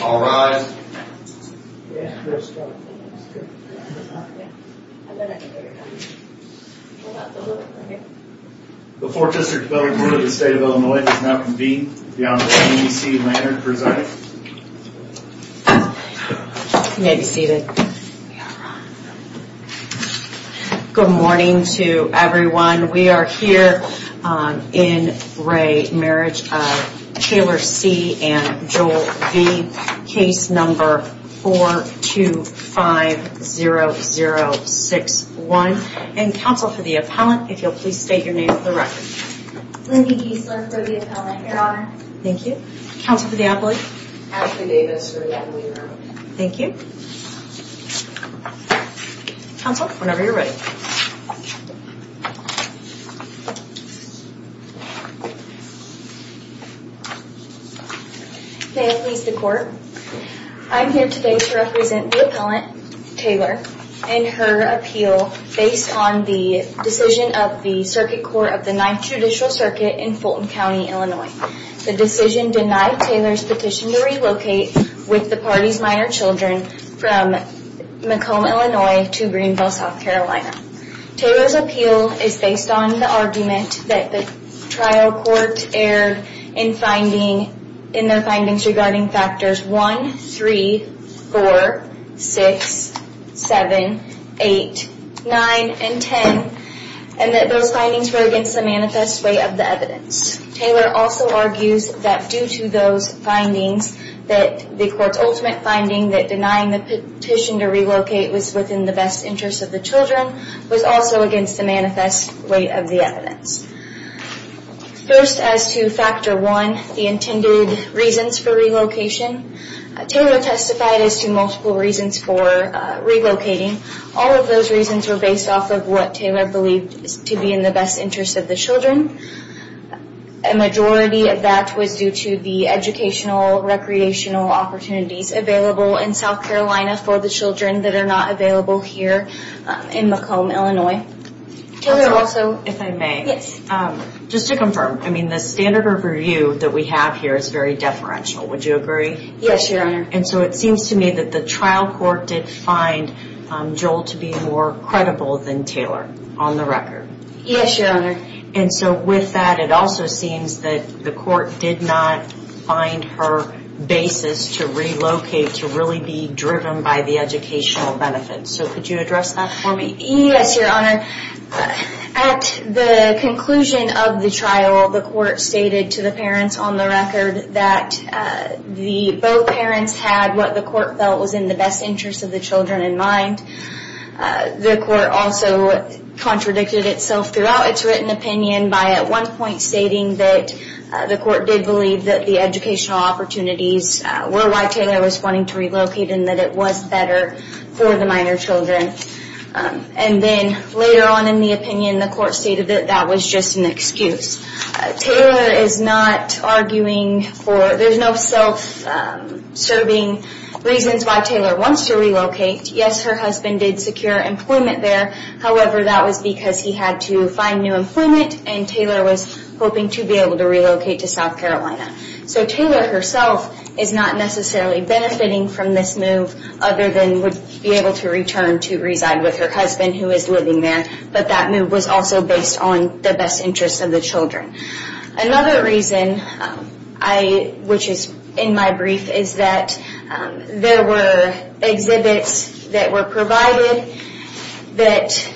All rise. The Fourth District Development Board of the State of Illinois is now convened. The Honorable Amy C. Lannard presenting. You may be seated. Good morning to everyone. We are here in Ray Marriage of Taylor C. and Joel V. Case number 4250061. And counsel for the appellant, if you'll please state your name for the record. Lindy Geisler for the appellant, Your Honor. Thank you. Counsel for the appellant. Ashley Davis for the appellant. Thank you. Counsel, whenever you're ready. May it please the Court. I'm here today to represent the appellant, Taylor, in her appeal based on the decision of the Circuit Court of the Ninth Judicial Circuit in Fulton County, Illinois. The decision denied Taylor's petition to relocate with the party's minor children from Macomb, Illinois to Greenville, South Carolina. Taylor's appeal is based on the argument that the trial court erred in their findings regarding factors 1, 3, 4, 6, 7, 8, 9, and 10. And that those findings were against the manifest way of the evidence. Taylor also argues that due to those findings that the court's ultimate finding that denying the petition to relocate was within the best interest of the children was also against the manifest way of the evidence. First, as to factor 1, the intended reasons for relocation, Taylor testified as to multiple reasons for relocating. All of those reasons were based off of what Taylor believed to be in the best interest of the children. A majority of that was due to the educational, recreational opportunities available in South Carolina for the children that are not available here in Macomb, Illinois. Taylor, also, if I may. Yes. Just to confirm, I mean, the standard of review that we have here is very deferential. Would you agree? Yes, Your Honor. And so it seems to me that the trial court did find Joel to be more credible than Taylor on the record. Yes, Your Honor. And so with that, it also seems that the court did not find her basis to relocate to really be driven by the educational benefits. So could you address that for me? Yes, Your Honor. At the conclusion of the trial, the court stated to the parents on the record that both parents had what the court felt was in the best interest of the children in mind. The court also contradicted itself throughout its written opinion by at one point stating that the court did believe that the educational opportunities were why Taylor was wanting to relocate and that it was better for the minor children. And then later on in the opinion, the court stated that that was just an excuse. Taylor is not arguing for, there's no self-serving reasons why Taylor wants to relocate. Yes, her husband did secure employment there. However, that was because he had to find new employment and Taylor was hoping to be able to relocate to South Carolina. So Taylor herself is not necessarily benefiting from this move other than would be able to return to reside with her husband who is living there. But that move was also based on the best interest of the children. Another reason, which is in my brief, is that there were exhibits that were provided that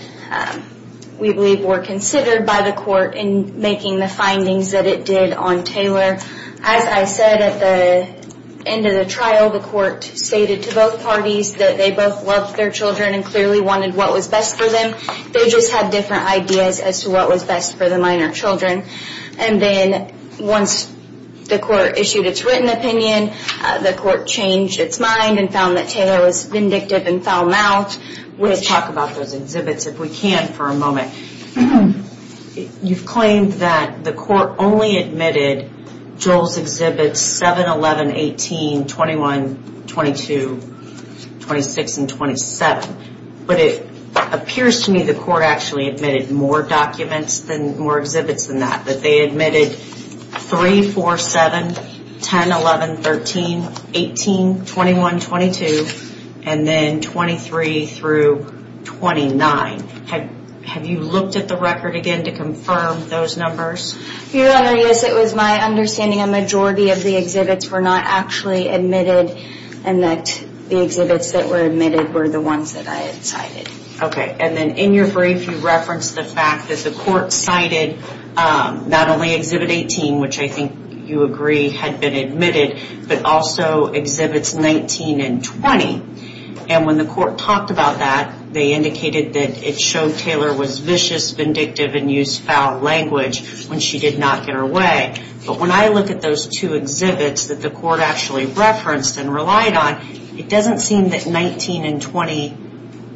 we believe were considered by the court in making the findings that it did on Taylor. As I said at the end of the trial, the court stated to both parties that they both loved their children and clearly wanted what was best for them. They just had different ideas as to what was best for the minor children. And then once the court issued its written opinion, the court changed its mind and found that Taylor was vindictive and foul-mouthed. Let's talk about those exhibits if we can for a moment. You've claimed that the court only admitted Joel's exhibits 7, 11, 18, 21, 22, 26, and 27. But it appears to me the court actually admitted more exhibits than that. That they admitted 3, 4, 7, 10, 11, 13, 18, 21, 22, and then 23 through 29. Have you looked at the record again to confirm those numbers? Your Honor, yes. It was my understanding a majority of the exhibits were not actually admitted and that the exhibits that were admitted were the ones that I had cited. Okay. And then in your brief you referenced the fact that the court cited not only exhibit 18, which I think you agree had been admitted, but also exhibits 19 and 20. And when the court talked about that, they indicated that it showed Taylor was vicious, vindictive, and used foul language when she did not get her way. But when I look at those two exhibits that the court actually referenced and relied on, it doesn't seem that 19 and 20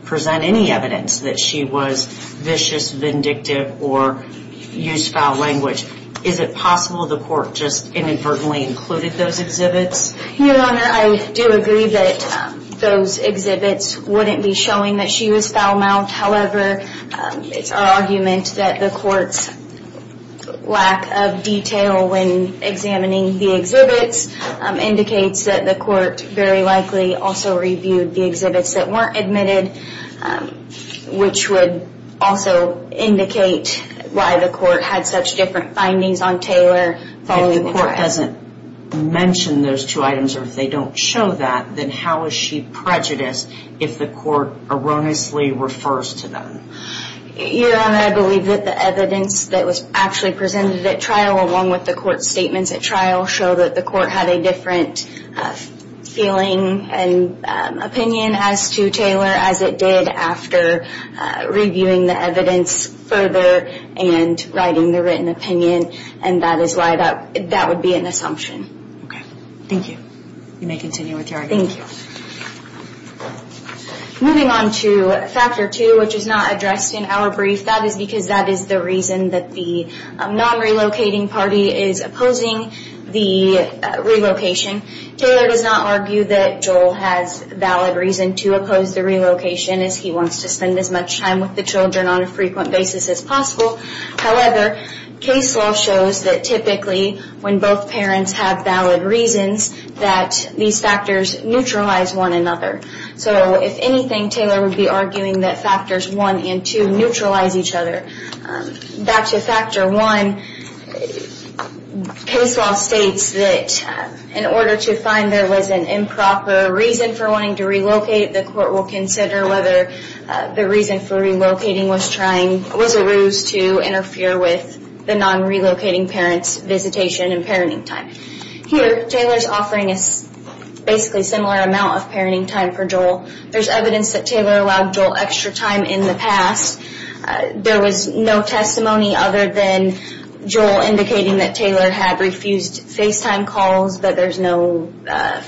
present any evidence that she was vicious, vindictive, or used foul language. Is it possible the court just inadvertently included those exhibits? Your Honor, I do agree that those exhibits wouldn't be showing that she was foul-mouthed. However, it's our argument that the court's lack of detail when examining the exhibits indicates that the court very likely also reviewed the exhibits that weren't admitted, which would also indicate why the court had such different findings on Taylor following the trial. If the court doesn't mention those two items or if they don't show that, then how is she prejudiced if the court erroneously refers to them? Your Honor, I believe that the evidence that was actually presented at trial along with the court's statements at trial show that the court had a different feeling and opinion as to Taylor as it did after reviewing the evidence further and writing the written opinion. And that is why that would be an assumption. Okay. Thank you. You may continue with your argument. Moving on to Factor 2, which is not addressed in our brief. That is because that is the reason that the non-relocating party is opposing the relocation. Taylor does not argue that Joel has valid reason to oppose the relocation as he wants to spend as much time with the children on a frequent basis as possible. However, case law shows that typically when both parents have valid reasons that these factors neutralize one another. So if anything, Taylor would be arguing that factors 1 and 2 neutralize each other. Back to Factor 1, case law states that in order to find there was an improper reason for wanting to relocate, the court will consider whether the reason for relocating was a ruse to interfere with the non-relocating parent's visitation and parenting time. Here, Taylor is offering a basically similar amount of parenting time for Joel. There is evidence that Taylor allowed Joel extra time in the past. There was no testimony other than Joel indicating that Taylor had refused FaceTime calls, but there is no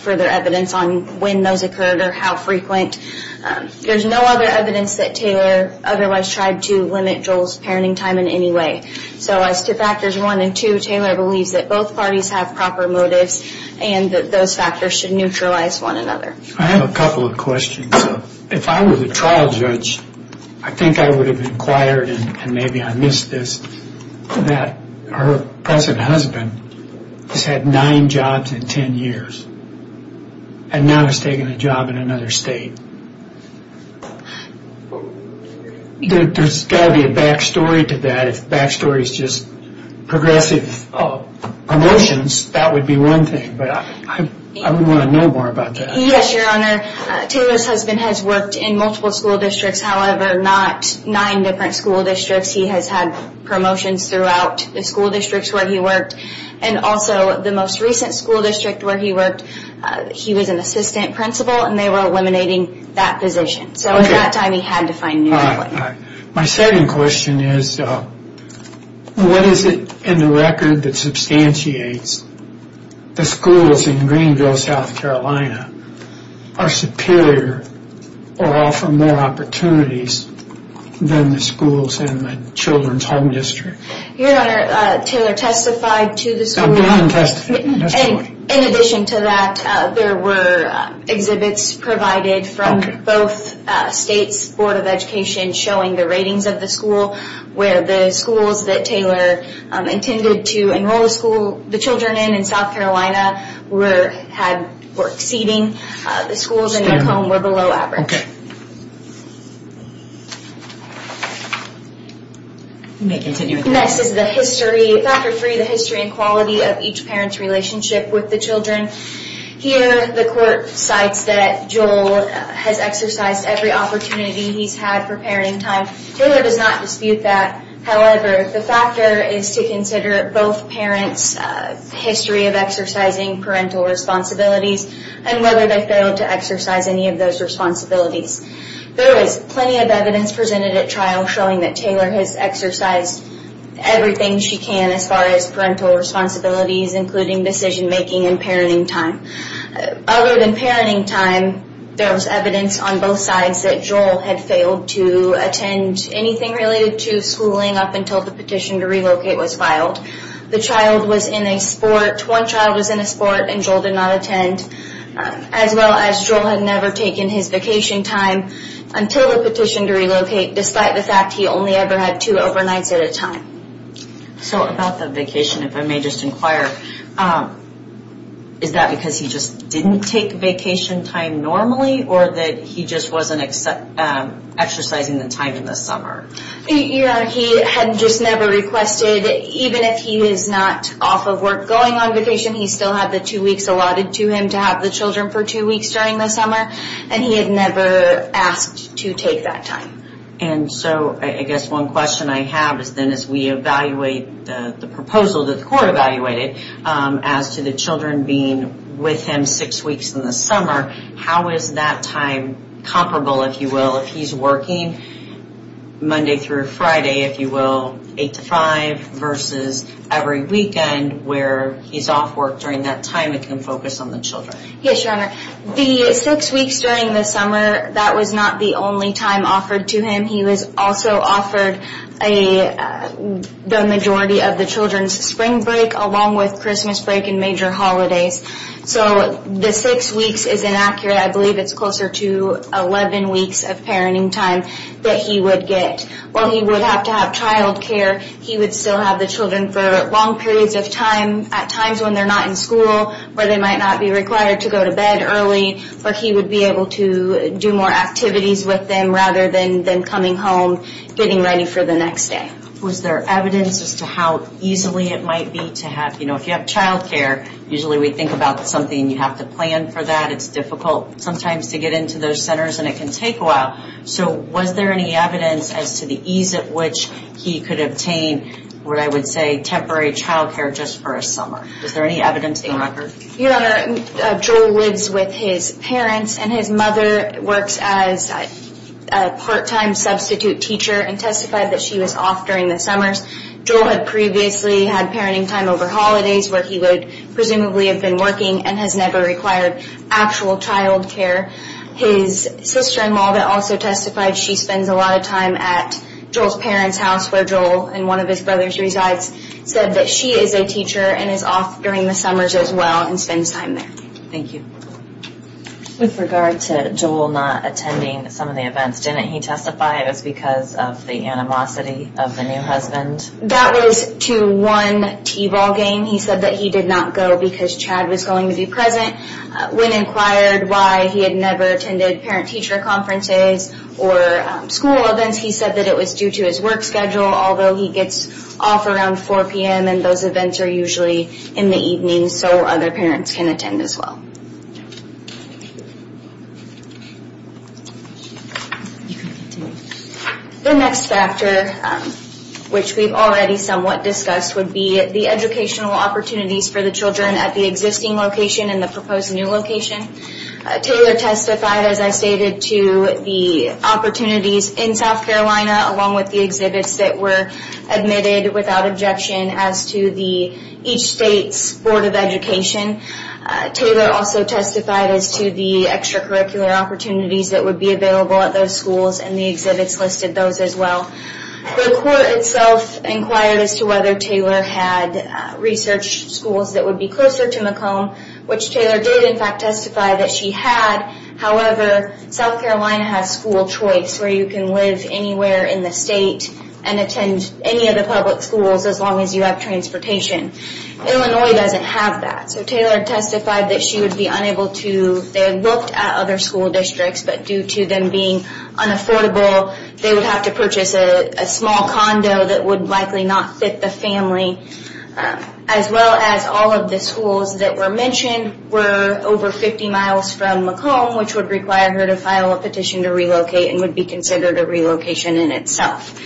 further evidence on when those occurred or how frequent. There is no other evidence that Taylor otherwise tried to limit Joel's parenting time in any way. So as to factors 1 and 2, Taylor believes that both parties have proper motives and that those factors should neutralize one another. I have a couple of questions. If I were the trial judge, I think I would have inquired, and maybe I missed this, that her present husband has had nine jobs in ten years and now is taking a job in another state. There's got to be a back story to that. If the back story is just progressive promotions, that would be one thing, but I would want to know more about that. Yes, Your Honor. Taylor's husband has worked in multiple school districts, however not nine different school districts. He has had promotions throughout the school districts where he worked, and also the most recent school district where he worked, he was an assistant principal, and they were eliminating that position. So at that time he had to find new employment. My second question is, what is it in the record that substantiates the schools in Greenville, South Carolina, are superior or offer more opportunities than the schools in the Children's Home District? Your Honor, Taylor testified to the school. In addition to that, there were exhibits provided from both states' Board of Education showing the ratings of the school, where the schools that Taylor intended to enroll the children in in South Carolina were exceeding. The schools in their home were below average. You may continue with your question. Next is the history, factor three, the history and quality of each parent's relationship with the children. Here the court cites that Joel has exercised every opportunity he's had for parenting time. Taylor does not dispute that. However, the factor is to consider both parents' history of exercising parental responsibilities and whether they failed to exercise any of those responsibilities. There is plenty of evidence presented at trial showing that Taylor has exercised everything she can as far as parental responsibilities, including decision-making and parenting time. Other than parenting time, there was evidence on both sides that Joel had failed to attend anything related to schooling up until the petition to relocate was filed. The child was in a sport. One child was in a sport and Joel did not attend, as well as Joel had never taken his vacation time until the petition to relocate, despite the fact he only ever had two overnights at a time. So about the vacation, if I may just inquire, is that because he just didn't take vacation time normally or that he just wasn't exercising the time in the summer? Yeah, he had just never requested, even if he is not off of work going on vacation, he still had the two weeks allotted to him to have the children for two weeks during the summer, and he had never asked to take that time. And so I guess one question I have is then as we evaluate the proposal that the court evaluated as to the children being with him six weeks in the summer, how is that time comparable, if you will, if he's working Monday through Friday, if you will, eight to five versus every weekend where he's off work during that time and can focus on the children? Yes, Your Honor. The six weeks during the summer, that was not the only time offered to him. He was also offered the majority of the children's spring break along with Christmas break and major holidays. So the six weeks is inaccurate. I believe it's closer to 11 weeks of parenting time that he would get. While he would have to have child care, he would still have the children for long periods of time, at times when they're not in school, where they might not be required to go to bed early, but he would be able to do more activities with them rather than coming home, getting ready for the next day. Was there evidence as to how easily it might be to have, you know, if you have child care, usually we think about something and you have to plan for that. It's difficult sometimes to get into those centers and it can take a while. So was there any evidence as to the ease at which he could obtain what I would say temporary child care just for a summer? Was there any evidence in the record? Your Honor, Joel lives with his parents and his mother works as a part-time substitute teacher and testified that she was off during the summers. Joel had previously had parenting time over holidays where he would presumably have been working and has never required actual child care. His sister-in-law that also testified, she spends a lot of time at Joel's parents' house, where Joel and one of his brothers resides, said that she is a teacher and is off during the summers as well and spends time there. Thank you. With regard to Joel not attending some of the events, didn't he testify it was because of the animosity of the new husband? That was to one t-ball game. He said that he did not go because Chad was going to be present. When inquired why he had never attended parent-teacher conferences or school events, he said that it was due to his work schedule, although he gets off around 4 p.m. and those events are usually in the evening so other parents can attend as well. The next factor, which we've already somewhat discussed, would be the educational opportunities for the children at the existing location and the proposed new location. Taylor testified, as I stated, to the opportunities in South Carolina along with the exhibits that were admitted without objection as to each state's Board of Education. Taylor also testified as to the extracurricular opportunities that would be available at those schools and the exhibits listed those as well. The court itself inquired as to whether Taylor had research schools that would be closer to Macomb, which Taylor did in fact testify that she had. However, South Carolina has school choice where you can live anywhere in the state and attend any of the public schools as long as you have transportation. Illinois doesn't have that, so Taylor testified that she would be unable to. They looked at other school districts, but due to them being unaffordable, they would have to purchase a small condo that would likely not fit the family. As well as all of the schools that were mentioned were over 50 miles from Macomb, which would require her to file a petition to relocate and would be considered a relocation in itself.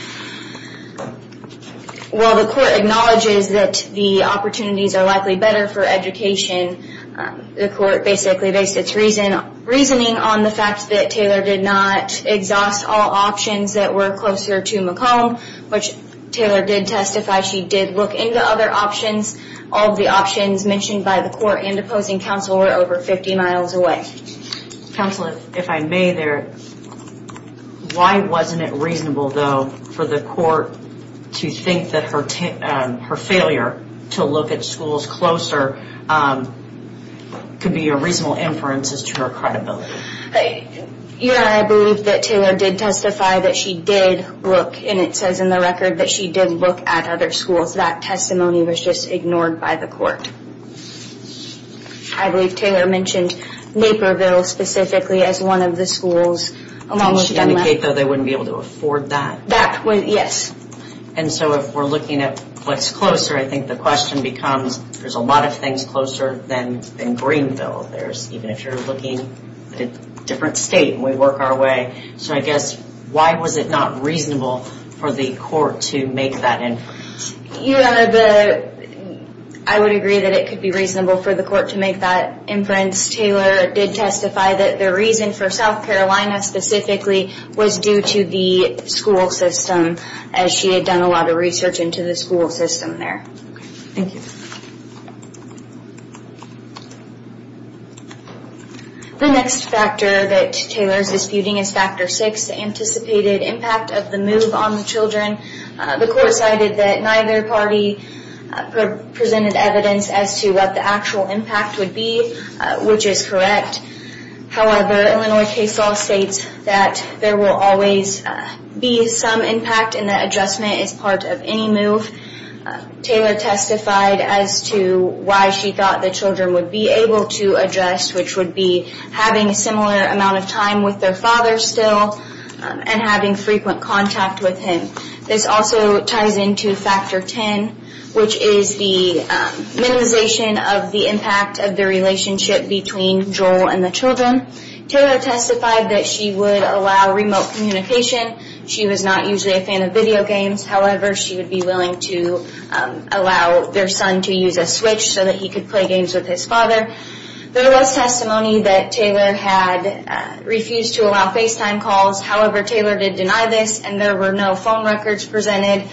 While the court acknowledges that the opportunities are likely better for education, the court basically based its reasoning on the fact that Taylor did not exhaust all options that were closer to Macomb, which Taylor did testify she did look into other options. All of the options mentioned by the court and opposing counsel were over 50 miles away. Counsel, if I may there, why wasn't it reasonable, though, for the court to think that her failure to look at schools closer could be a reasonable inference as to her credibility? Your Honor, I believe that Taylor did testify that she did look, and it says in the record that she did look at other schools. That testimony was just ignored by the court. I believe Taylor mentioned Naperville specifically as one of the schools. Did she indicate, though, that they wouldn't be able to afford that? That, yes. And so if we're looking at what's closer, I think the question becomes, there's a lot of things closer than Greenville. Even if you're looking at a different state and we work our way. So I guess, why was it not reasonable for the court to make that inference? Your Honor, I would agree that it could be reasonable for the court to make that inference. Taylor did testify that the reason for South Carolina specifically was due to the school system, as she had done a lot of research into the school system there. Thank you. The next factor that Taylor is disputing is factor six, the anticipated impact of the move on the children. The court cited that neither party presented evidence as to what the actual impact would be, which is correct. However, Illinois case law states that there will always be some impact and that adjustment is part of any move. Taylor testified as to why she thought the children would be able to address, which would be having a similar amount of time with their father still and having frequent contact with him. This also ties into factor ten, which is the minimization of the impact of the relationship between Joel and the children. Taylor testified that she would allow remote communication. She was not usually a fan of video games. However, she would be willing to allow their son to use a switch so that he could play games with his father. There was testimony that Taylor had refused to allow FaceTime calls. However, Taylor did deny this and there were no phone records presented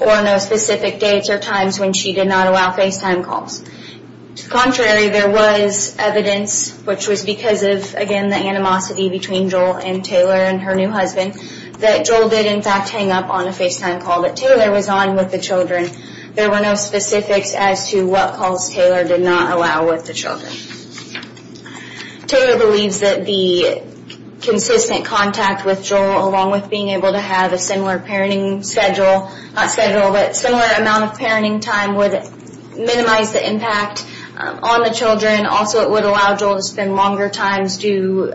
or no specific dates or times when she did not allow FaceTime calls. Contrary, there was evidence, which was because of, again, the animosity between Joel and Taylor and her new husband, that Joel did, in fact, hang up on a FaceTime call that Taylor was on with the children. There were no specifics as to what calls Taylor did not allow with the children. Taylor believes that the consistent contact with Joel, along with being able to have a similar amount of parenting time, would minimize the impact on the children. Also, it would allow Joel to spend longer times, do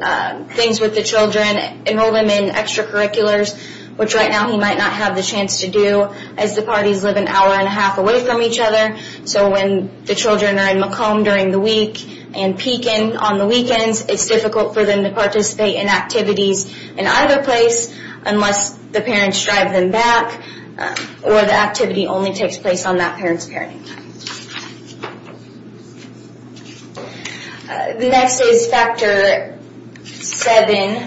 things with the children, enroll them in extracurriculars, which right now he might not have the chance to do, as the parties live an hour and a half away from each other. So when the children are in Macomb during the week and Pekin on the weekends, it's difficult for them to participate in activities in either place unless the parents drive them back or the activity only takes place on that parent's parenting time. The next is Factor 7,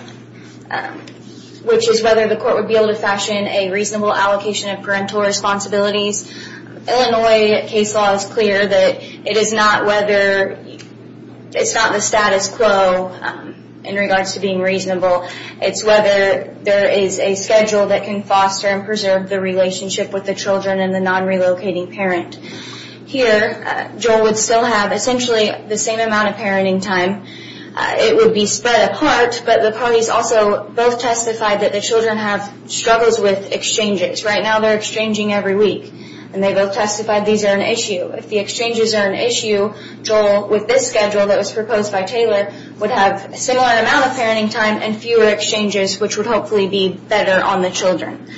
which is whether the court would be able to fashion a reasonable allocation of parental responsibilities. Illinois case law is clear that it is not whether, it's not the status quo in regards to being reasonable. It's whether there is a schedule that can foster and preserve the relationship with the children and the non-relocating parent. Here, Joel would still have essentially the same amount of parenting time. It would be spread apart, but the parties also both testified that the children have struggles with exchanges. Right now they're exchanging every week, and they both testified these are an issue. If the exchanges are an issue, Joel, with this schedule that was proposed by Taylor, would have a similar amount of parenting time and fewer exchanges, which would hopefully be better on the children.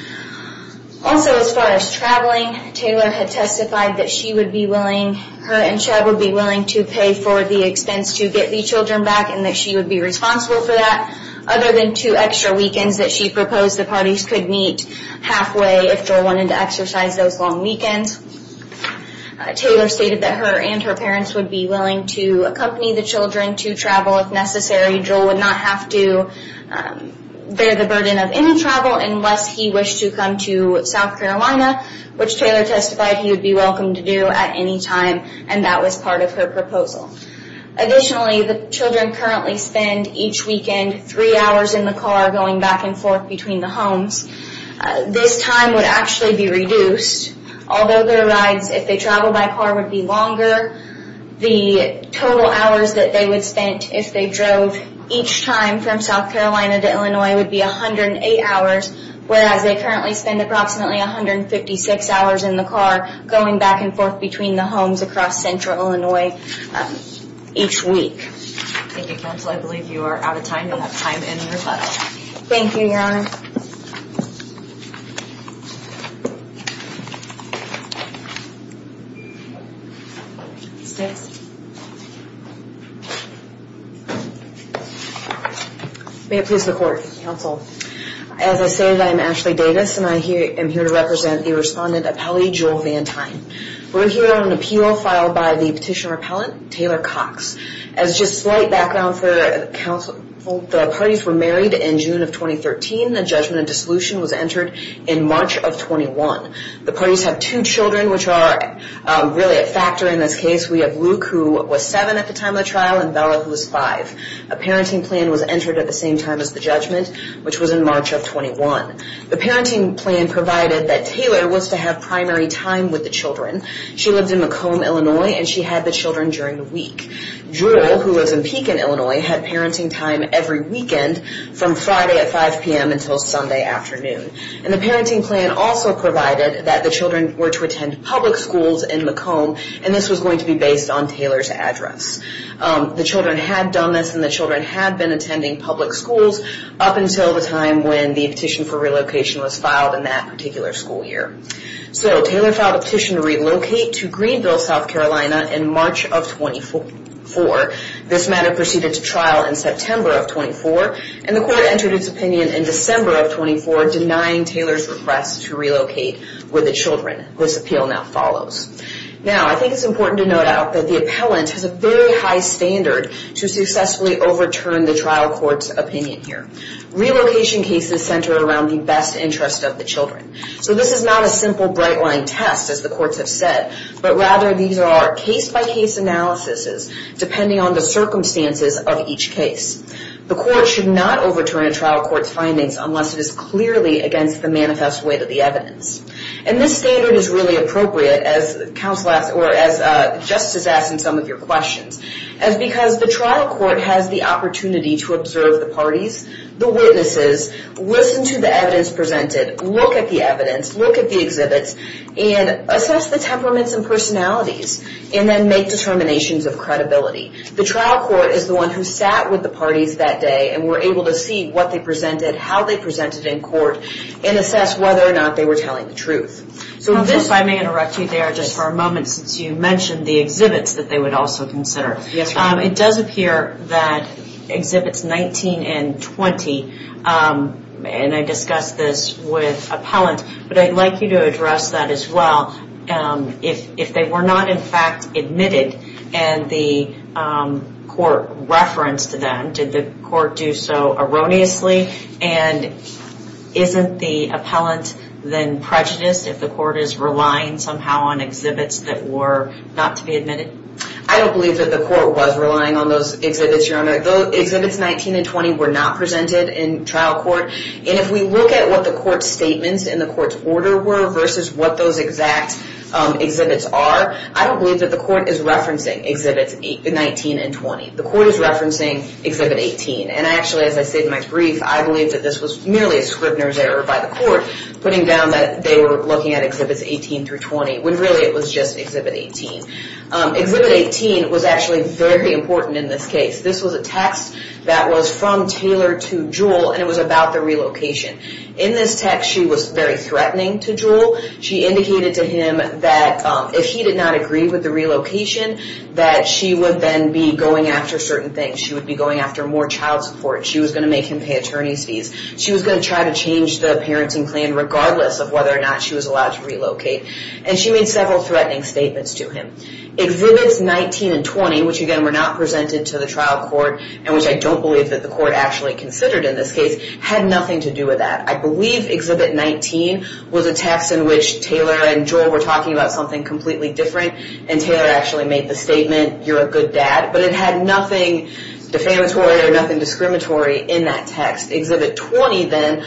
Also, as far as traveling, Taylor had testified that she would be willing, her and Chad would be willing to pay for the expense to get the children back and that she would be responsible for that. Other than two extra weekends that she proposed the parties could meet halfway if Joel wanted to exercise those long weekends. Taylor stated that her and her parents would be willing to accompany the children to travel if necessary. Joel would not have to bear the burden of any travel unless he wished to come to South Carolina, which Taylor testified he would be welcome to do at any time, and that was part of her proposal. Additionally, the children currently spend each weekend three hours in the car going back and forth between the homes. This time would actually be reduced. Although their rides, if they traveled by car, would be longer, the total hours that they would spend if they drove each time from South Carolina to Illinois would be 108 hours, whereas they currently spend approximately 156 hours in the car going back and forth between the homes across central Illinois each week. Thank you, Counsel. I believe you are out of time. You'll have time in your letter. Thank you, Your Honor. May it please the Court, Counsel. As I stated, I am Ashley Davis, and I am here to represent the respondent appellee, Joel Van Tine. We're here on an appeal filed by the petition repellent, Taylor Cox. As just slight background for counsel, the parties were married in June of 2013. The judgment of dissolution was entered in March of 21. The parties have two children, which are really a factor in this case. We have Luke, who was 7 at the time of the trial, and Bella, who was 5. A parenting plan was entered at the same time as the judgment, which was in March of 21. The parenting plan provided that Taylor was to have primary time with the children. She lived in Macomb, Illinois, and she had the children during the week. Joel, who lives in Pekin, Illinois, had parenting time every weekend from Friday at 5 p.m. until Sunday afternoon. And the parenting plan also provided that the children were to attend public schools in Macomb, and this was going to be based on Taylor's address. The children had done this, and the children had been attending public schools up until the time when the petition for relocation was filed in that particular school year. So Taylor filed a petition to relocate to Greenville, South Carolina, in March of 24. This matter proceeded to trial in September of 24, and the court entered its opinion in December of 24, denying Taylor's request to relocate with the children. This appeal now follows. Now, I think it's important to note out that the appellant has a very high standard to successfully overturn the trial court's opinion here. Relocation cases center around the best interest of the children. So this is not a simple bright-line test, as the courts have said, but rather these are case-by-case analyses depending on the circumstances of each case. The court should not overturn a trial court's findings unless it is clearly against the manifest weight of the evidence. And this standard is really appropriate, as Justice asked in some of your questions, as because the trial court has the opportunity to observe the parties, the witnesses, listen to the evidence presented, look at the evidence, look at the exhibits, and assess the temperaments and personalities, and then make determinations of credibility. The trial court is the one who sat with the parties that day and were able to see what they presented, how they presented in court, and assess whether or not they were telling the truth. If I may interrupt you there just for a moment, since you mentioned the exhibits that they would also consider. It does appear that Exhibits 19 and 20, and I discussed this with appellants, but I'd like you to address that as well. If they were not in fact admitted and the court referenced them, did the court do so erroneously? And isn't the appellant then prejudiced if the court is relying somehow on exhibits that were not to be admitted? I don't believe that the court was relying on those exhibits, Your Honor. Exhibits 19 and 20 were not presented in trial court. And if we look at what the court's statements and the court's order were versus what those exact exhibits are, I don't believe that the court is referencing Exhibits 19 and 20. The court is referencing Exhibit 18. And actually, as I said in my brief, I believe that this was merely a Scribner's error by the court putting down that they were looking at Exhibits 18 through 20, when really it was just Exhibit 18. Exhibit 18 was actually very important in this case. This was a text that was from Taylor to Jewell, and it was about the relocation. In this text, she was very threatening to Jewell. She indicated to him that if he did not agree with the relocation, that she would then be going after certain things. She would be going after more child support. She was going to make him pay attorney's fees. She was going to try to change the parenting plan regardless of whether or not she was allowed to relocate. And she made several threatening statements to him. Exhibits 19 and 20, which again were not presented to the trial court, and which I don't believe that the court actually considered in this case, had nothing to do with that. I believe Exhibit 19 was a text in which Taylor and Jewell were talking about something completely different, and Taylor actually made the statement, you're a good dad. But it had nothing defamatory or nothing discriminatory in that text. Exhibit 20 then,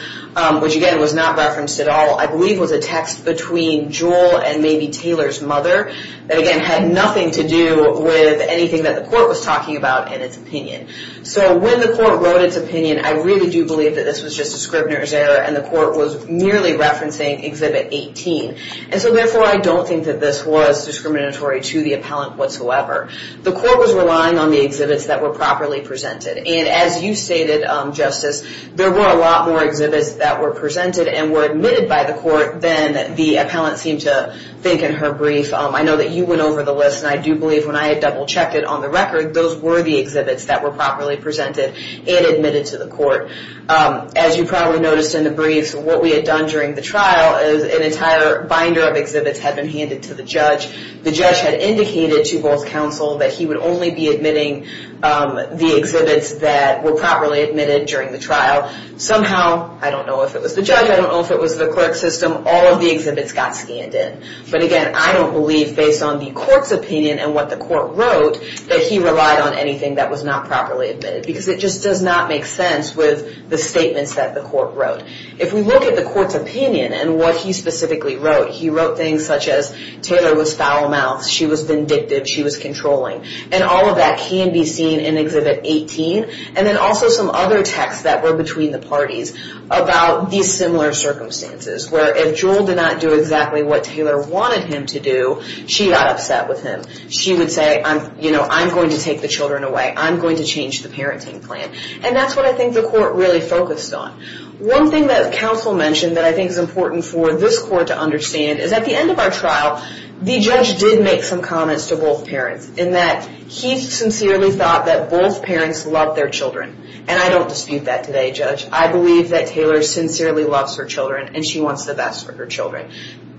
which again was not referenced at all, I believe was a text between Jewell and maybe Taylor's mother, that again had nothing to do with anything that the court was talking about in its opinion. So when the court wrote its opinion, I really do believe that this was just a Scribner's error, and the court was merely referencing Exhibit 18. And so therefore, I don't think that this was discriminatory to the appellant whatsoever. The court was relying on the exhibits that were properly presented. And as you stated, Justice, there were a lot more exhibits that were presented and were admitted by the court than the appellant seemed to think in her brief. I know that you went over the list, and I do believe when I had double-checked it on the record, those were the exhibits that were properly presented and admitted to the court. As you probably noticed in the brief, what we had done during the trial is an entire binder of exhibits had been handed to the judge. The judge had indicated to both counsel that he would only be admitting the exhibits that were properly admitted during the trial. Somehow, I don't know if it was the judge, I don't know if it was the clerk system, all of the exhibits got scanned in. But again, I don't believe based on the court's opinion and what the court wrote that he relied on anything that was not properly admitted because it just does not make sense with the statements that the court wrote. If we look at the court's opinion and what he specifically wrote, he wrote things such as Taylor was foul-mouthed, she was vindictive, she was controlling. And all of that can be seen in Exhibit 18. And then also some other texts that were between the parties about these similar circumstances, where if Jewel did not do exactly what Taylor wanted him to do, she got upset with him. She would say, you know, I'm going to take the children away. I'm going to change the parenting plan. And that's what I think the court really focused on. One thing that counsel mentioned that I think is important for this court to understand is at the end of our trial, the judge did make some comments to both parents in that he sincerely thought that both parents loved their children. And I don't dispute that today, Judge. I believe that Taylor sincerely loves her children and she wants the best for her children.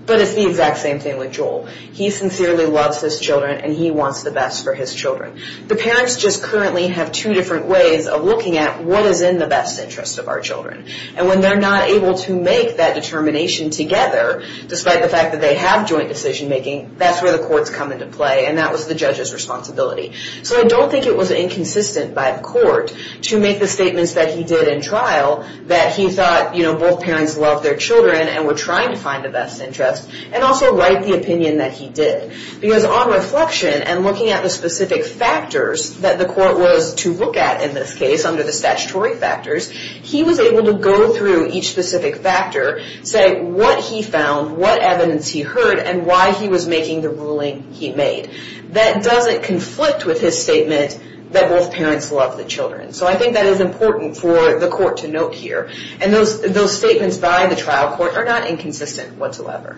But it's the exact same thing with Jewel. He sincerely loves his children and he wants the best for his children. The parents just currently have two different ways of looking at what is in the best interest of our children. And when they're not able to make that determination together, despite the fact that they have joint decision making, that's where the courts come into play. And that was the judge's responsibility. So I don't think it was inconsistent by the court to make the statements that he did in trial that he thought, you know, both parents loved their children and were trying to find the best interest, and also write the opinion that he did. Because on reflection and looking at the specific factors that the court was to look at in this case, under the statutory factors, he was able to go through each specific factor, say what he found, what evidence he heard, and why he was making the ruling he made. That doesn't conflict with his statement that both parents love the children. So I think that is important for the court to note here. And those statements by the trial court are not inconsistent whatsoever.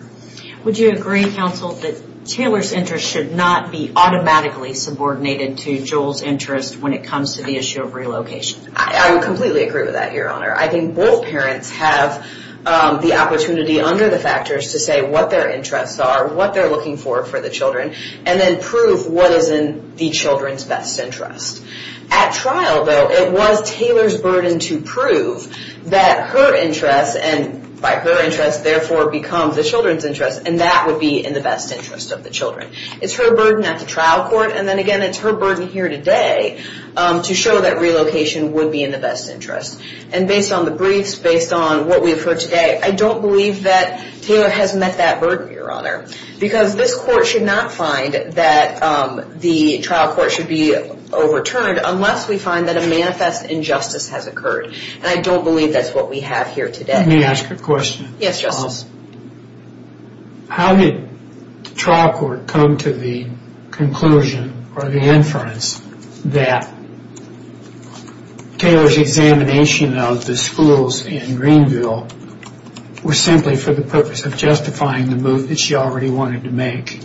Would you agree, counsel, that Taylor's interest should not be automatically subordinated to Joel's interest when it comes to the issue of relocation? I would completely agree with that, Your Honor. I think both parents have the opportunity under the factors to say what their interests are, what they're looking for for the children, and then prove what is in the children's best interest. At trial, though, it was Taylor's burden to prove that her interests, and by her interests, therefore become the children's interests, and that would be in the best interest of the children. It's her burden at the trial court, and then again it's her burden here today to show that relocation would be in the best interest. And based on the briefs, based on what we've heard today, I don't believe that Taylor has met that burden, Your Honor, because this court should not find that the trial court should be overturned unless we find that a manifest injustice has occurred. And I don't believe that's what we have here today. Let me ask a question. Yes, Justice. How did the trial court come to the conclusion or the inference that Taylor's examination of the schools in Greenville was simply for the purpose of justifying the move that she already wanted to make?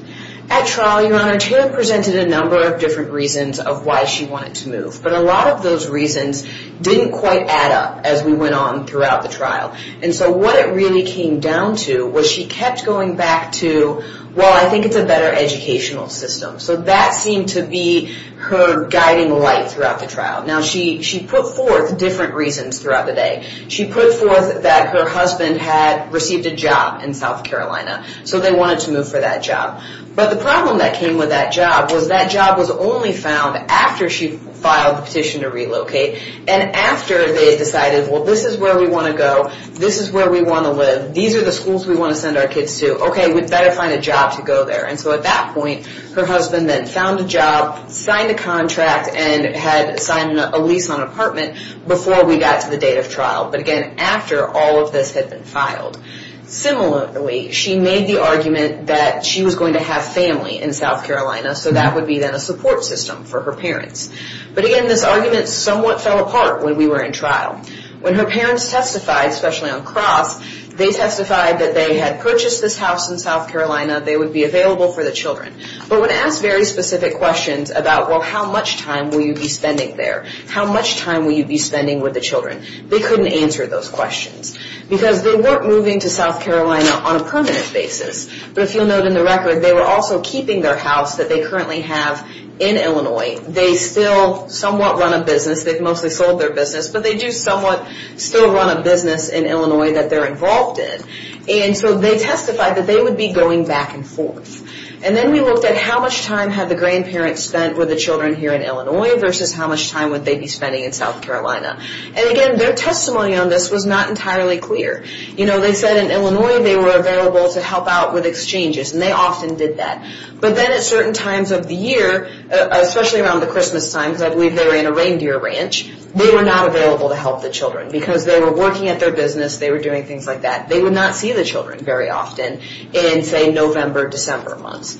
At trial, Your Honor, Taylor presented a number of different reasons of why she wanted to move, but a lot of those reasons didn't quite add up as we went on throughout the trial. And so what it really came down to was she kept going back to, well, I think it's a better educational system. So that seemed to be her guiding light throughout the trial. Now, she put forth different reasons throughout the day. She put forth that her husband had received a job in South Carolina, so they wanted to move for that job. But the problem that came with that job was that job was only found after she filed the petition to relocate. And after they decided, well, this is where we want to go. This is where we want to live. These are the schools we want to send our kids to. Okay, we'd better find a job to go there. And so at that point, her husband then found a job, signed a contract, and had signed a lease on an apartment before we got to the date of trial, but, again, after all of this had been filed. Similarly, she made the argument that she was going to have family in South Carolina, so that would be then a support system for her parents. But, again, this argument somewhat fell apart when we were in trial. When her parents testified, especially on Cross, they testified that they had purchased this house in South Carolina, they would be available for the children. But when asked very specific questions about, well, how much time will you be spending there, how much time will you be spending with the children, they couldn't answer those questions because they weren't moving to South Carolina on a permanent basis. But if you'll note in the record, they were also keeping their house that they currently have in Illinois. They still somewhat run a business. They've mostly sold their business, but they do somewhat still run a business in Illinois that they're involved in. And so they testified that they would be going back and forth. And then we looked at how much time had the grandparents spent with the children here in Illinois versus how much time would they be spending in South Carolina. And, again, their testimony on this was not entirely clear. You know, they said in Illinois they were available to help out with exchanges, and they often did that. But then at certain times of the year, especially around the Christmas time, because I believe they were in a reindeer ranch, they were not available to help the children because they were working at their business, they were doing things like that. They would not see the children very often in, say, November, December months.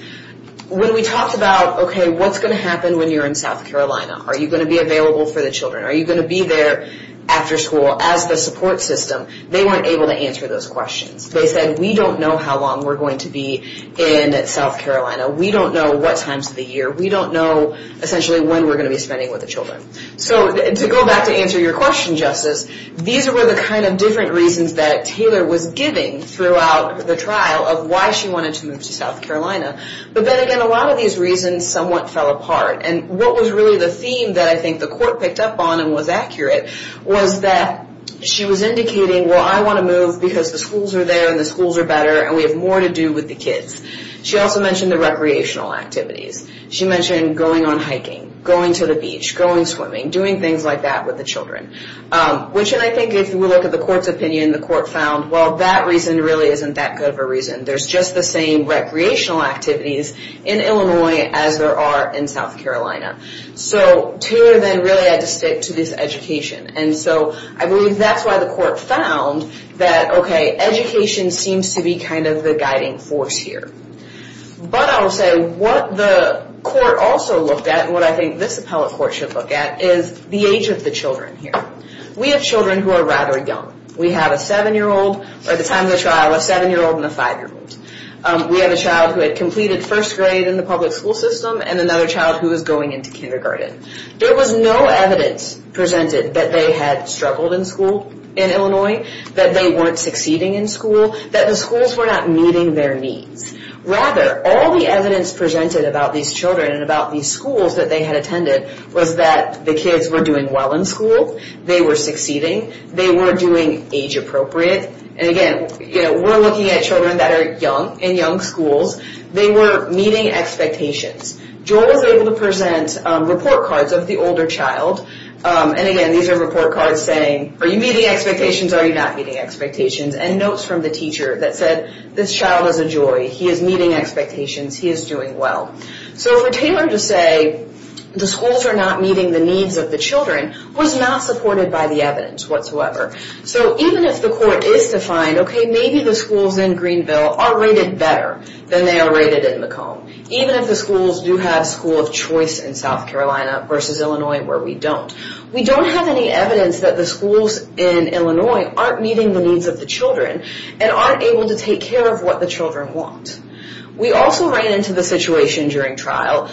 When we talked about, okay, what's going to happen when you're in South Carolina? Are you going to be available for the children? Are you going to be there after school? As the support system, they weren't able to answer those questions. They said, we don't know how long we're going to be in South Carolina. We don't know what times of the year. We don't know, essentially, when we're going to be spending with the children. So to go back to answer your question, Justice, these were the kind of different reasons that Taylor was giving throughout the trial of why she wanted to move to South Carolina. But then, again, a lot of these reasons somewhat fell apart. And what was really the theme that I think the court picked up on and was accurate was that she was indicating, well, I want to move because the schools are there and the schools are better and we have more to do with the kids. She also mentioned the recreational activities. She mentioned going on hiking, going to the beach, going swimming, doing things like that with the children, which I think if we look at the court's opinion, the court found, well, that reason really isn't that good of a reason. There's just the same recreational activities in Illinois as there are in South Carolina. So Taylor then really had to stick to this education. And so I believe that's why the court found that, okay, education seems to be kind of the guiding force here. But I will say what the court also looked at and what I think this appellate court should look at is the age of the children here. We have children who are rather young. We have a 7-year-old, or at the time of the trial, a 7-year-old and a 5-year-old. We have a child who had completed first grade in the public school system and another child who is going into kindergarten. There was no evidence presented that they had struggled in school in Illinois, that they weren't succeeding in school, that the schools were not meeting their needs. Rather, all the evidence presented about these children and about these schools that they had attended was that the kids were doing well in school, they were succeeding, they were doing age appropriate. And again, we're looking at children that are young in young schools. They were meeting expectations. Joel was able to present report cards of the older child. And again, these are report cards saying, are you meeting expectations, are you not meeting expectations? And notes from the teacher that said, this child is a joy, he is meeting expectations, he is doing well. So for Taylor to say the schools are not meeting the needs of the children was not supported by the evidence whatsoever. So even if the court is to find, okay, maybe the schools in Greenville are rated better than they are rated in Macomb. Even if the schools do have School of Choice in South Carolina versus Illinois where we don't. We don't have any evidence that the schools in Illinois aren't meeting the needs of the children and aren't able to take care of what the children want. We also ran into the situation during trial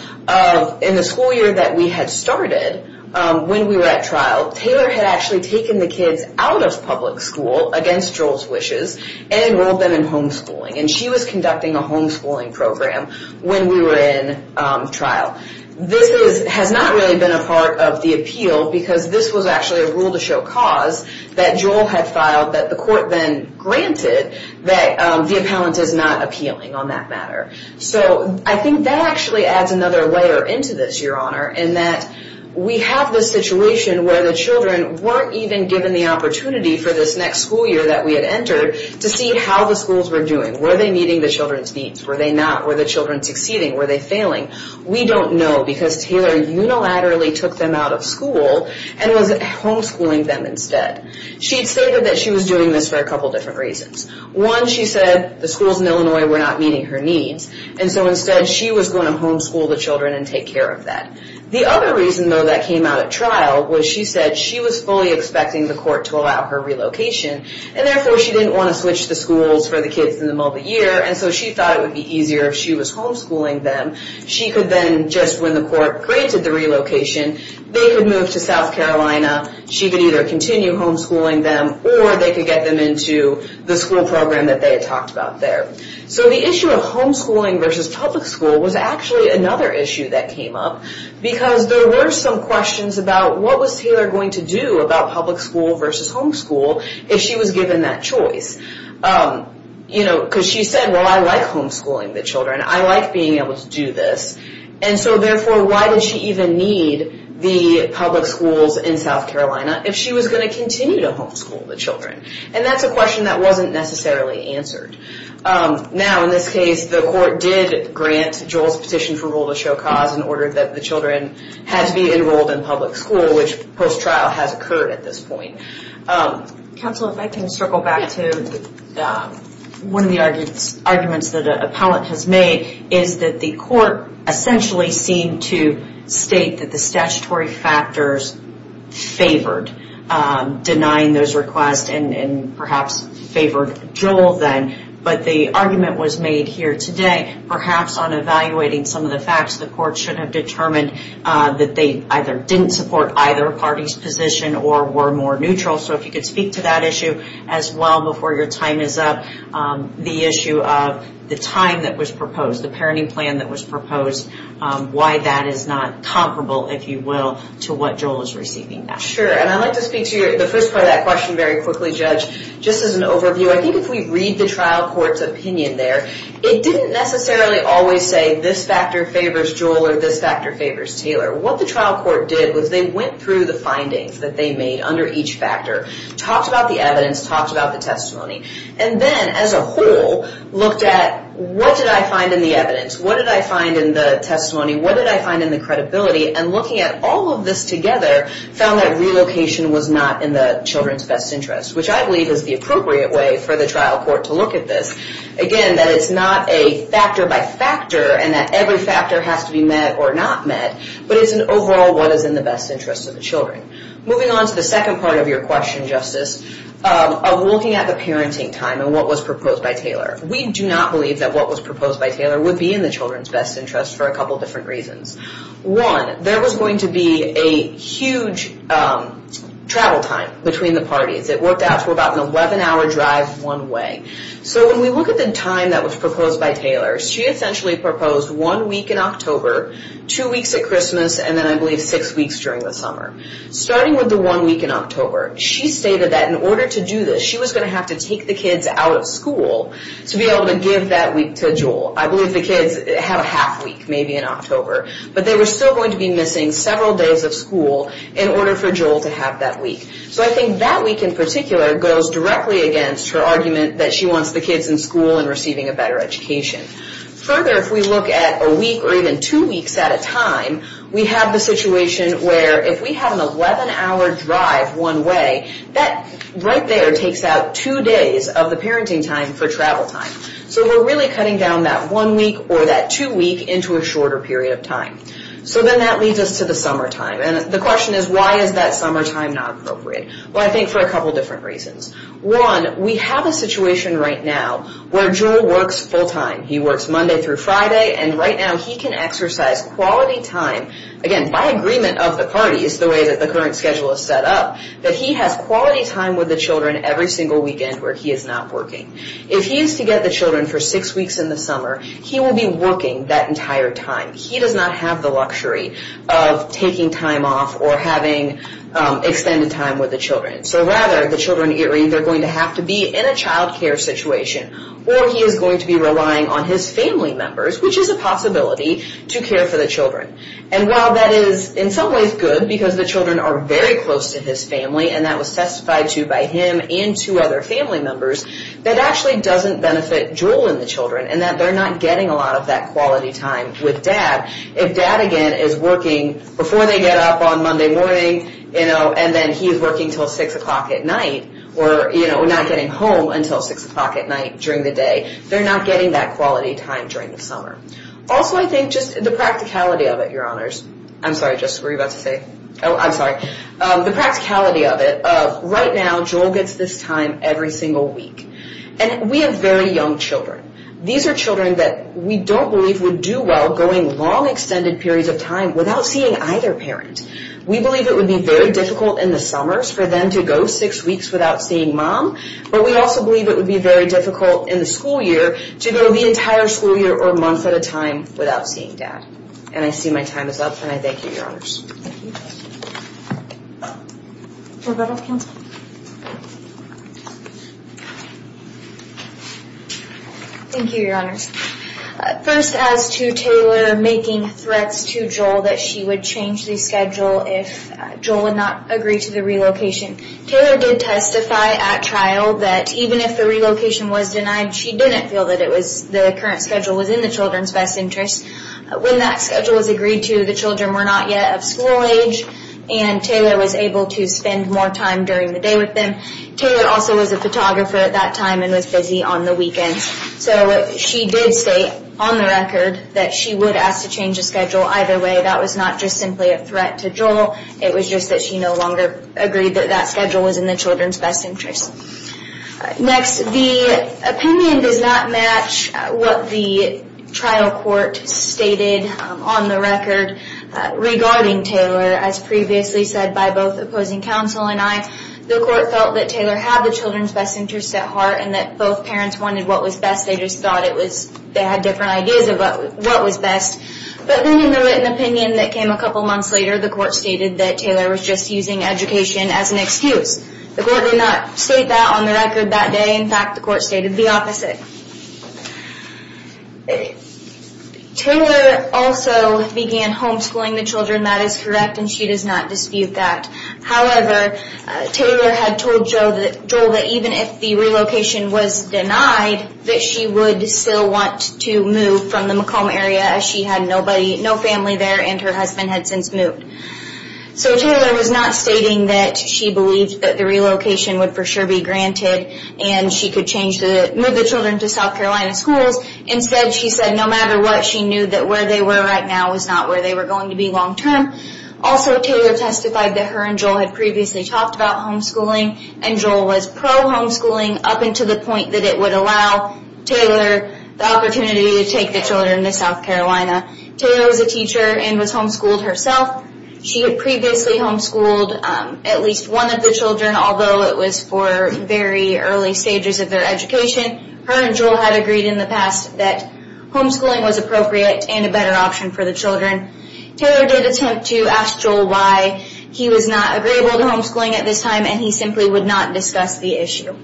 in the school year that we had started when we were at trial. Taylor had actually taken the kids out of public school against Joel's wishes and enrolled them in homeschooling. And she was conducting a homeschooling program when we were in trial. This has not really been a part of the appeal because this was actually a rule to show cause that Joel had filed that the court then granted that the appellant is not appealing on that matter. So I think that actually adds another layer into this, Your Honor, in that we have this situation where the children weren't even given the opportunity for this next school year that we had entered to see how the schools were doing. Were they meeting the children's needs? Were they not? Were the children succeeding? Were they failing? We don't know because Taylor unilaterally took them out of school and was homeschooling them instead. She stated that she was doing this for a couple different reasons. One, she said the schools in Illinois were not meeting her needs, and so instead she was going to homeschool the children and take care of that. The other reason, though, that came out at trial was she said she was fully expecting the court to allow her relocation and therefore she didn't want to switch the schools for the kids in the middle of the year, and so she thought it would be easier if she was homeschooling them. She could then, just when the court granted the relocation, they could move to South Carolina. She could either continue homeschooling them or they could get them into the school program that they had talked about there. So the issue of homeschooling versus public school was actually another issue that came up because there were some questions about what was Taylor going to do about public school versus homeschool if she was given that choice. Because she said, well, I like homeschooling the children. I like being able to do this, and so therefore why did she even need the public schools in South Carolina if she was going to continue to homeschool the children? And that's a question that wasn't necessarily answered. Now, in this case, the court did grant Joel's petition for rule to show cause in order that the children had to be enrolled in public school, which post-trial has occurred at this point. Counsel, if I can circle back to one of the arguments that an appellate has made is that the court essentially seemed to state that the statutory factors favored denying those requests and perhaps favored Joel then, but the argument was made here today perhaps on evaluating some of the facts. The court should have determined that they either didn't support either party's position or were more neutral. So if you could speak to that issue as well before your time is up. The issue of the time that was proposed, the parenting plan that was proposed, why that is not comparable, if you will, to what Joel is receiving now. Sure, and I'd like to speak to the first part of that question very quickly, Judge. Just as an overview, I think if we read the trial court's opinion there, it didn't necessarily always say this factor favors Joel or this factor favors Taylor. What the trial court did was they went through the findings that they made under each factor, talked about the evidence, talked about the testimony, and then as a whole, looked at what did I find in the evidence, what did I find in the testimony, what did I find in the credibility, and looking at all of this together, found that relocation was not in the children's best interest, which I believe is the appropriate way for the trial court to look at this. Again, that it's not a factor by factor and that every factor has to be met or not met, but it's an overall what is in the best interest of the children. Moving on to the second part of your question, Justice, of looking at the parenting time and what was proposed by Taylor. We do not believe that what was proposed by Taylor would be in the children's best interest for a couple different reasons. One, there was going to be a huge travel time between the parties. It worked out to about an 11-hour drive one way. When we look at the time that was proposed by Taylor, she essentially proposed one week in October, two weeks at Christmas, and then I believe six weeks during the summer. Starting with the one week in October, she stated that in order to do this, she was going to have to take the kids out of school to be able to give that week to Joel. I believe the kids have a half week maybe in October, but they were still going to be missing several days of school in order for Joel to have that week. So I think that week in particular goes directly against her argument that she wants the kids in school and receiving a better education. Further, if we look at a week or even two weeks at a time, we have the situation where if we have an 11-hour drive one way, that right there takes out two days of the parenting time for travel time. So we're really cutting down that one week or that two week into a shorter period of time. So then that leads us to the summertime. The question is why is that summertime not appropriate? I think for a couple different reasons. One, we have a situation right now where Joel works full-time. He works Monday through Friday, and right now he can exercise quality time. Again, by agreement of the parties, the way that the current schedule is set up, that he has quality time with the children every single weekend where he is not working. If he is to get the children for six weeks in the summer, he will be working that entire time. He does not have the luxury of taking time off or having extended time with the children. So rather, the children either are going to have to be in a child care situation or he is going to be relying on his family members, which is a possibility to care for the children. And while that is in some ways good because the children are very close to his family and that was testified to by him and two other family members, that actually doesn't benefit Joel and the children in that they're not getting a lot of that quality time with dad. If dad, again, is working before they get up on Monday morning and then he is working until 6 o'clock at night or not getting home until 6 o'clock at night, during the day, they're not getting that quality time during the summer. Also, I think just the practicality of it, your honors. I'm sorry, Jessica, what were you about to say? Oh, I'm sorry. The practicality of it. Right now, Joel gets this time every single week. And we have very young children. These are children that we don't believe would do well going long extended periods of time without seeing either parent. We believe it would be very difficult in the summers for them to go six weeks without seeing mom. But we also believe it would be very difficult in the school year to go the entire school year or month at a time without seeing dad. And I see my time is up and I thank you, your honors. Thank you. Roberta, counsel? Thank you, your honors. First, as to Taylor making threats to Joel that she would change the schedule if Joel would not agree to the relocation, Taylor did testify at trial that even if the relocation was denied, she didn't feel that the current schedule was in the children's best interest. When that schedule was agreed to, the children were not yet of school age and Taylor was able to spend more time during the day with them. Taylor also was a photographer at that time and was busy on the weekends. So she did state on the record that she would ask to change the schedule either way. That was not just simply a threat to Joel. It was just that she no longer agreed that that schedule was in the children's best interest. Next, the opinion does not match what the trial court stated on the record regarding Taylor. As previously said by both opposing counsel and I, the court felt that Taylor had the children's best interest at heart and that both parents wanted what was best. They just thought they had different ideas about what was best. But then in the written opinion that came a couple months later, the court stated that Taylor was just using education as an excuse. The court did not state that on the record that day. In fact, the court stated the opposite. Taylor also began homeschooling the children. That is correct and she does not dispute that. However, Taylor had told Joel that even if the relocation was denied, that she would still want to move from the Macomb area as she had no family there and her husband had since moved. So Taylor was not stating that she believed that the relocation would for sure be granted and she could move the children to South Carolina schools. Instead, she said no matter what, she knew that where they were right now was not where they were going to be long term. Also, Taylor testified that her and Joel had previously talked about homeschooling and Joel was pro-homeschooling up until the point that it would allow Taylor the opportunity to take the children to South Carolina. Taylor was a teacher and was homeschooled herself. She had previously homeschooled at least one of the children, although it was for very early stages of their education. Her and Joel had agreed in the past that homeschooling was appropriate and a better option for the children. Taylor did attempt to ask Joel why he was not agreeable to homeschooling at this time and he simply would not discuss the issue.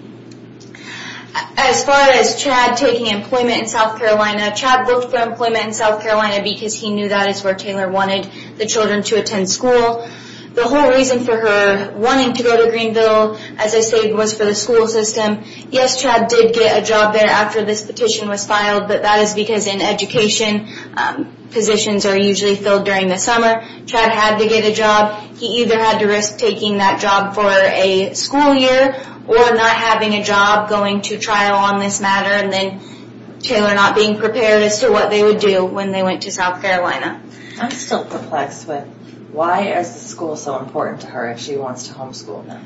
As far as Chad taking employment in South Carolina, Chad booked for employment in South Carolina because he knew that is where Taylor wanted the children to attend school. The whole reason for her wanting to go to Greenville as I stated was for the school system. Yes, Chad did get a job there after this petition was filed, but that is because in education, positions are usually filled during the summer. Chad had to get a job. He either had to risk taking that job for a school year or not having a job going to trial on this matter and then Taylor not being prepared as to what they would do when they went to South Carolina. I'm still perplexed with why is the school so important to her if she wants to homeschool them?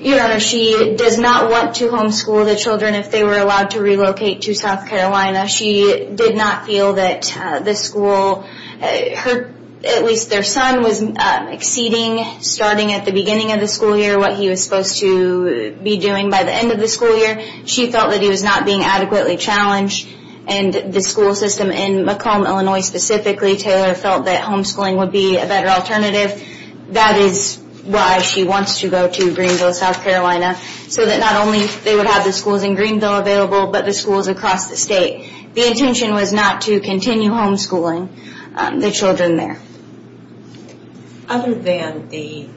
Your Honor, she does not want to homeschool the children if they were allowed to relocate to South Carolina. She did not feel that the school, at least their son was exceeding starting at the beginning of the school year, what he was supposed to be doing by the end of the school year. She felt that he was not being adequately challenged and the school system in Macomb, Illinois specifically, Taylor felt that homeschooling would be a better alternative. That is why she wants to go to Greenville, South Carolina so that not only they would have the schools in Greenville available, but the schools across the state. The intention was not to continue homeschooling the children there. Other than the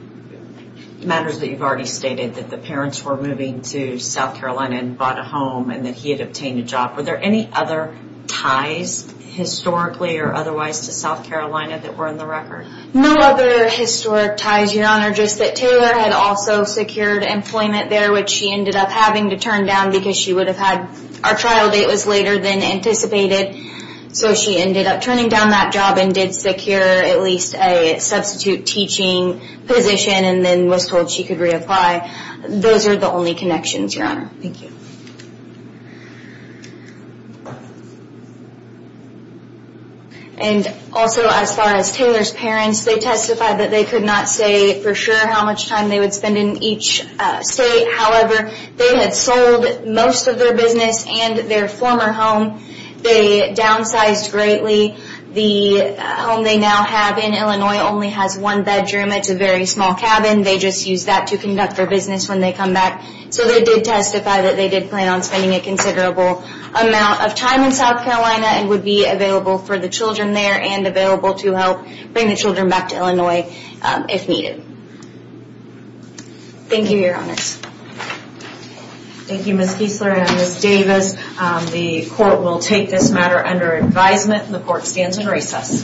matters that you've already stated that the parents were moving to South Carolina and bought a home and that he had obtained a job, were there any other ties historically or otherwise to South Carolina that were in the record? No other historic ties, Your Honor, just that Taylor had also secured employment there, which she ended up having to turn down because our trial date was later than anticipated. So she ended up turning down that job and did secure at least a substitute teaching position and then was told she could reapply. Those are the only connections, Your Honor. Thank you. And also as far as Taylor's parents, they testified that they could not say for sure how much time they would spend in each state. However, they had sold most of their business and their former home. They downsized greatly. The home they now have in Illinois only has one bedroom. It's a very small cabin. They just use that to conduct their business when they come back. So they did testify that they did plan on spending a considerable amount of time in South Carolina and would be available for the children there and available to help bring the children back to Illinois if needed. Thank you, Your Honors. Thank you, Ms. Kiesler and Ms. Davis. The court will take this matter under advisement and the court stands in recess.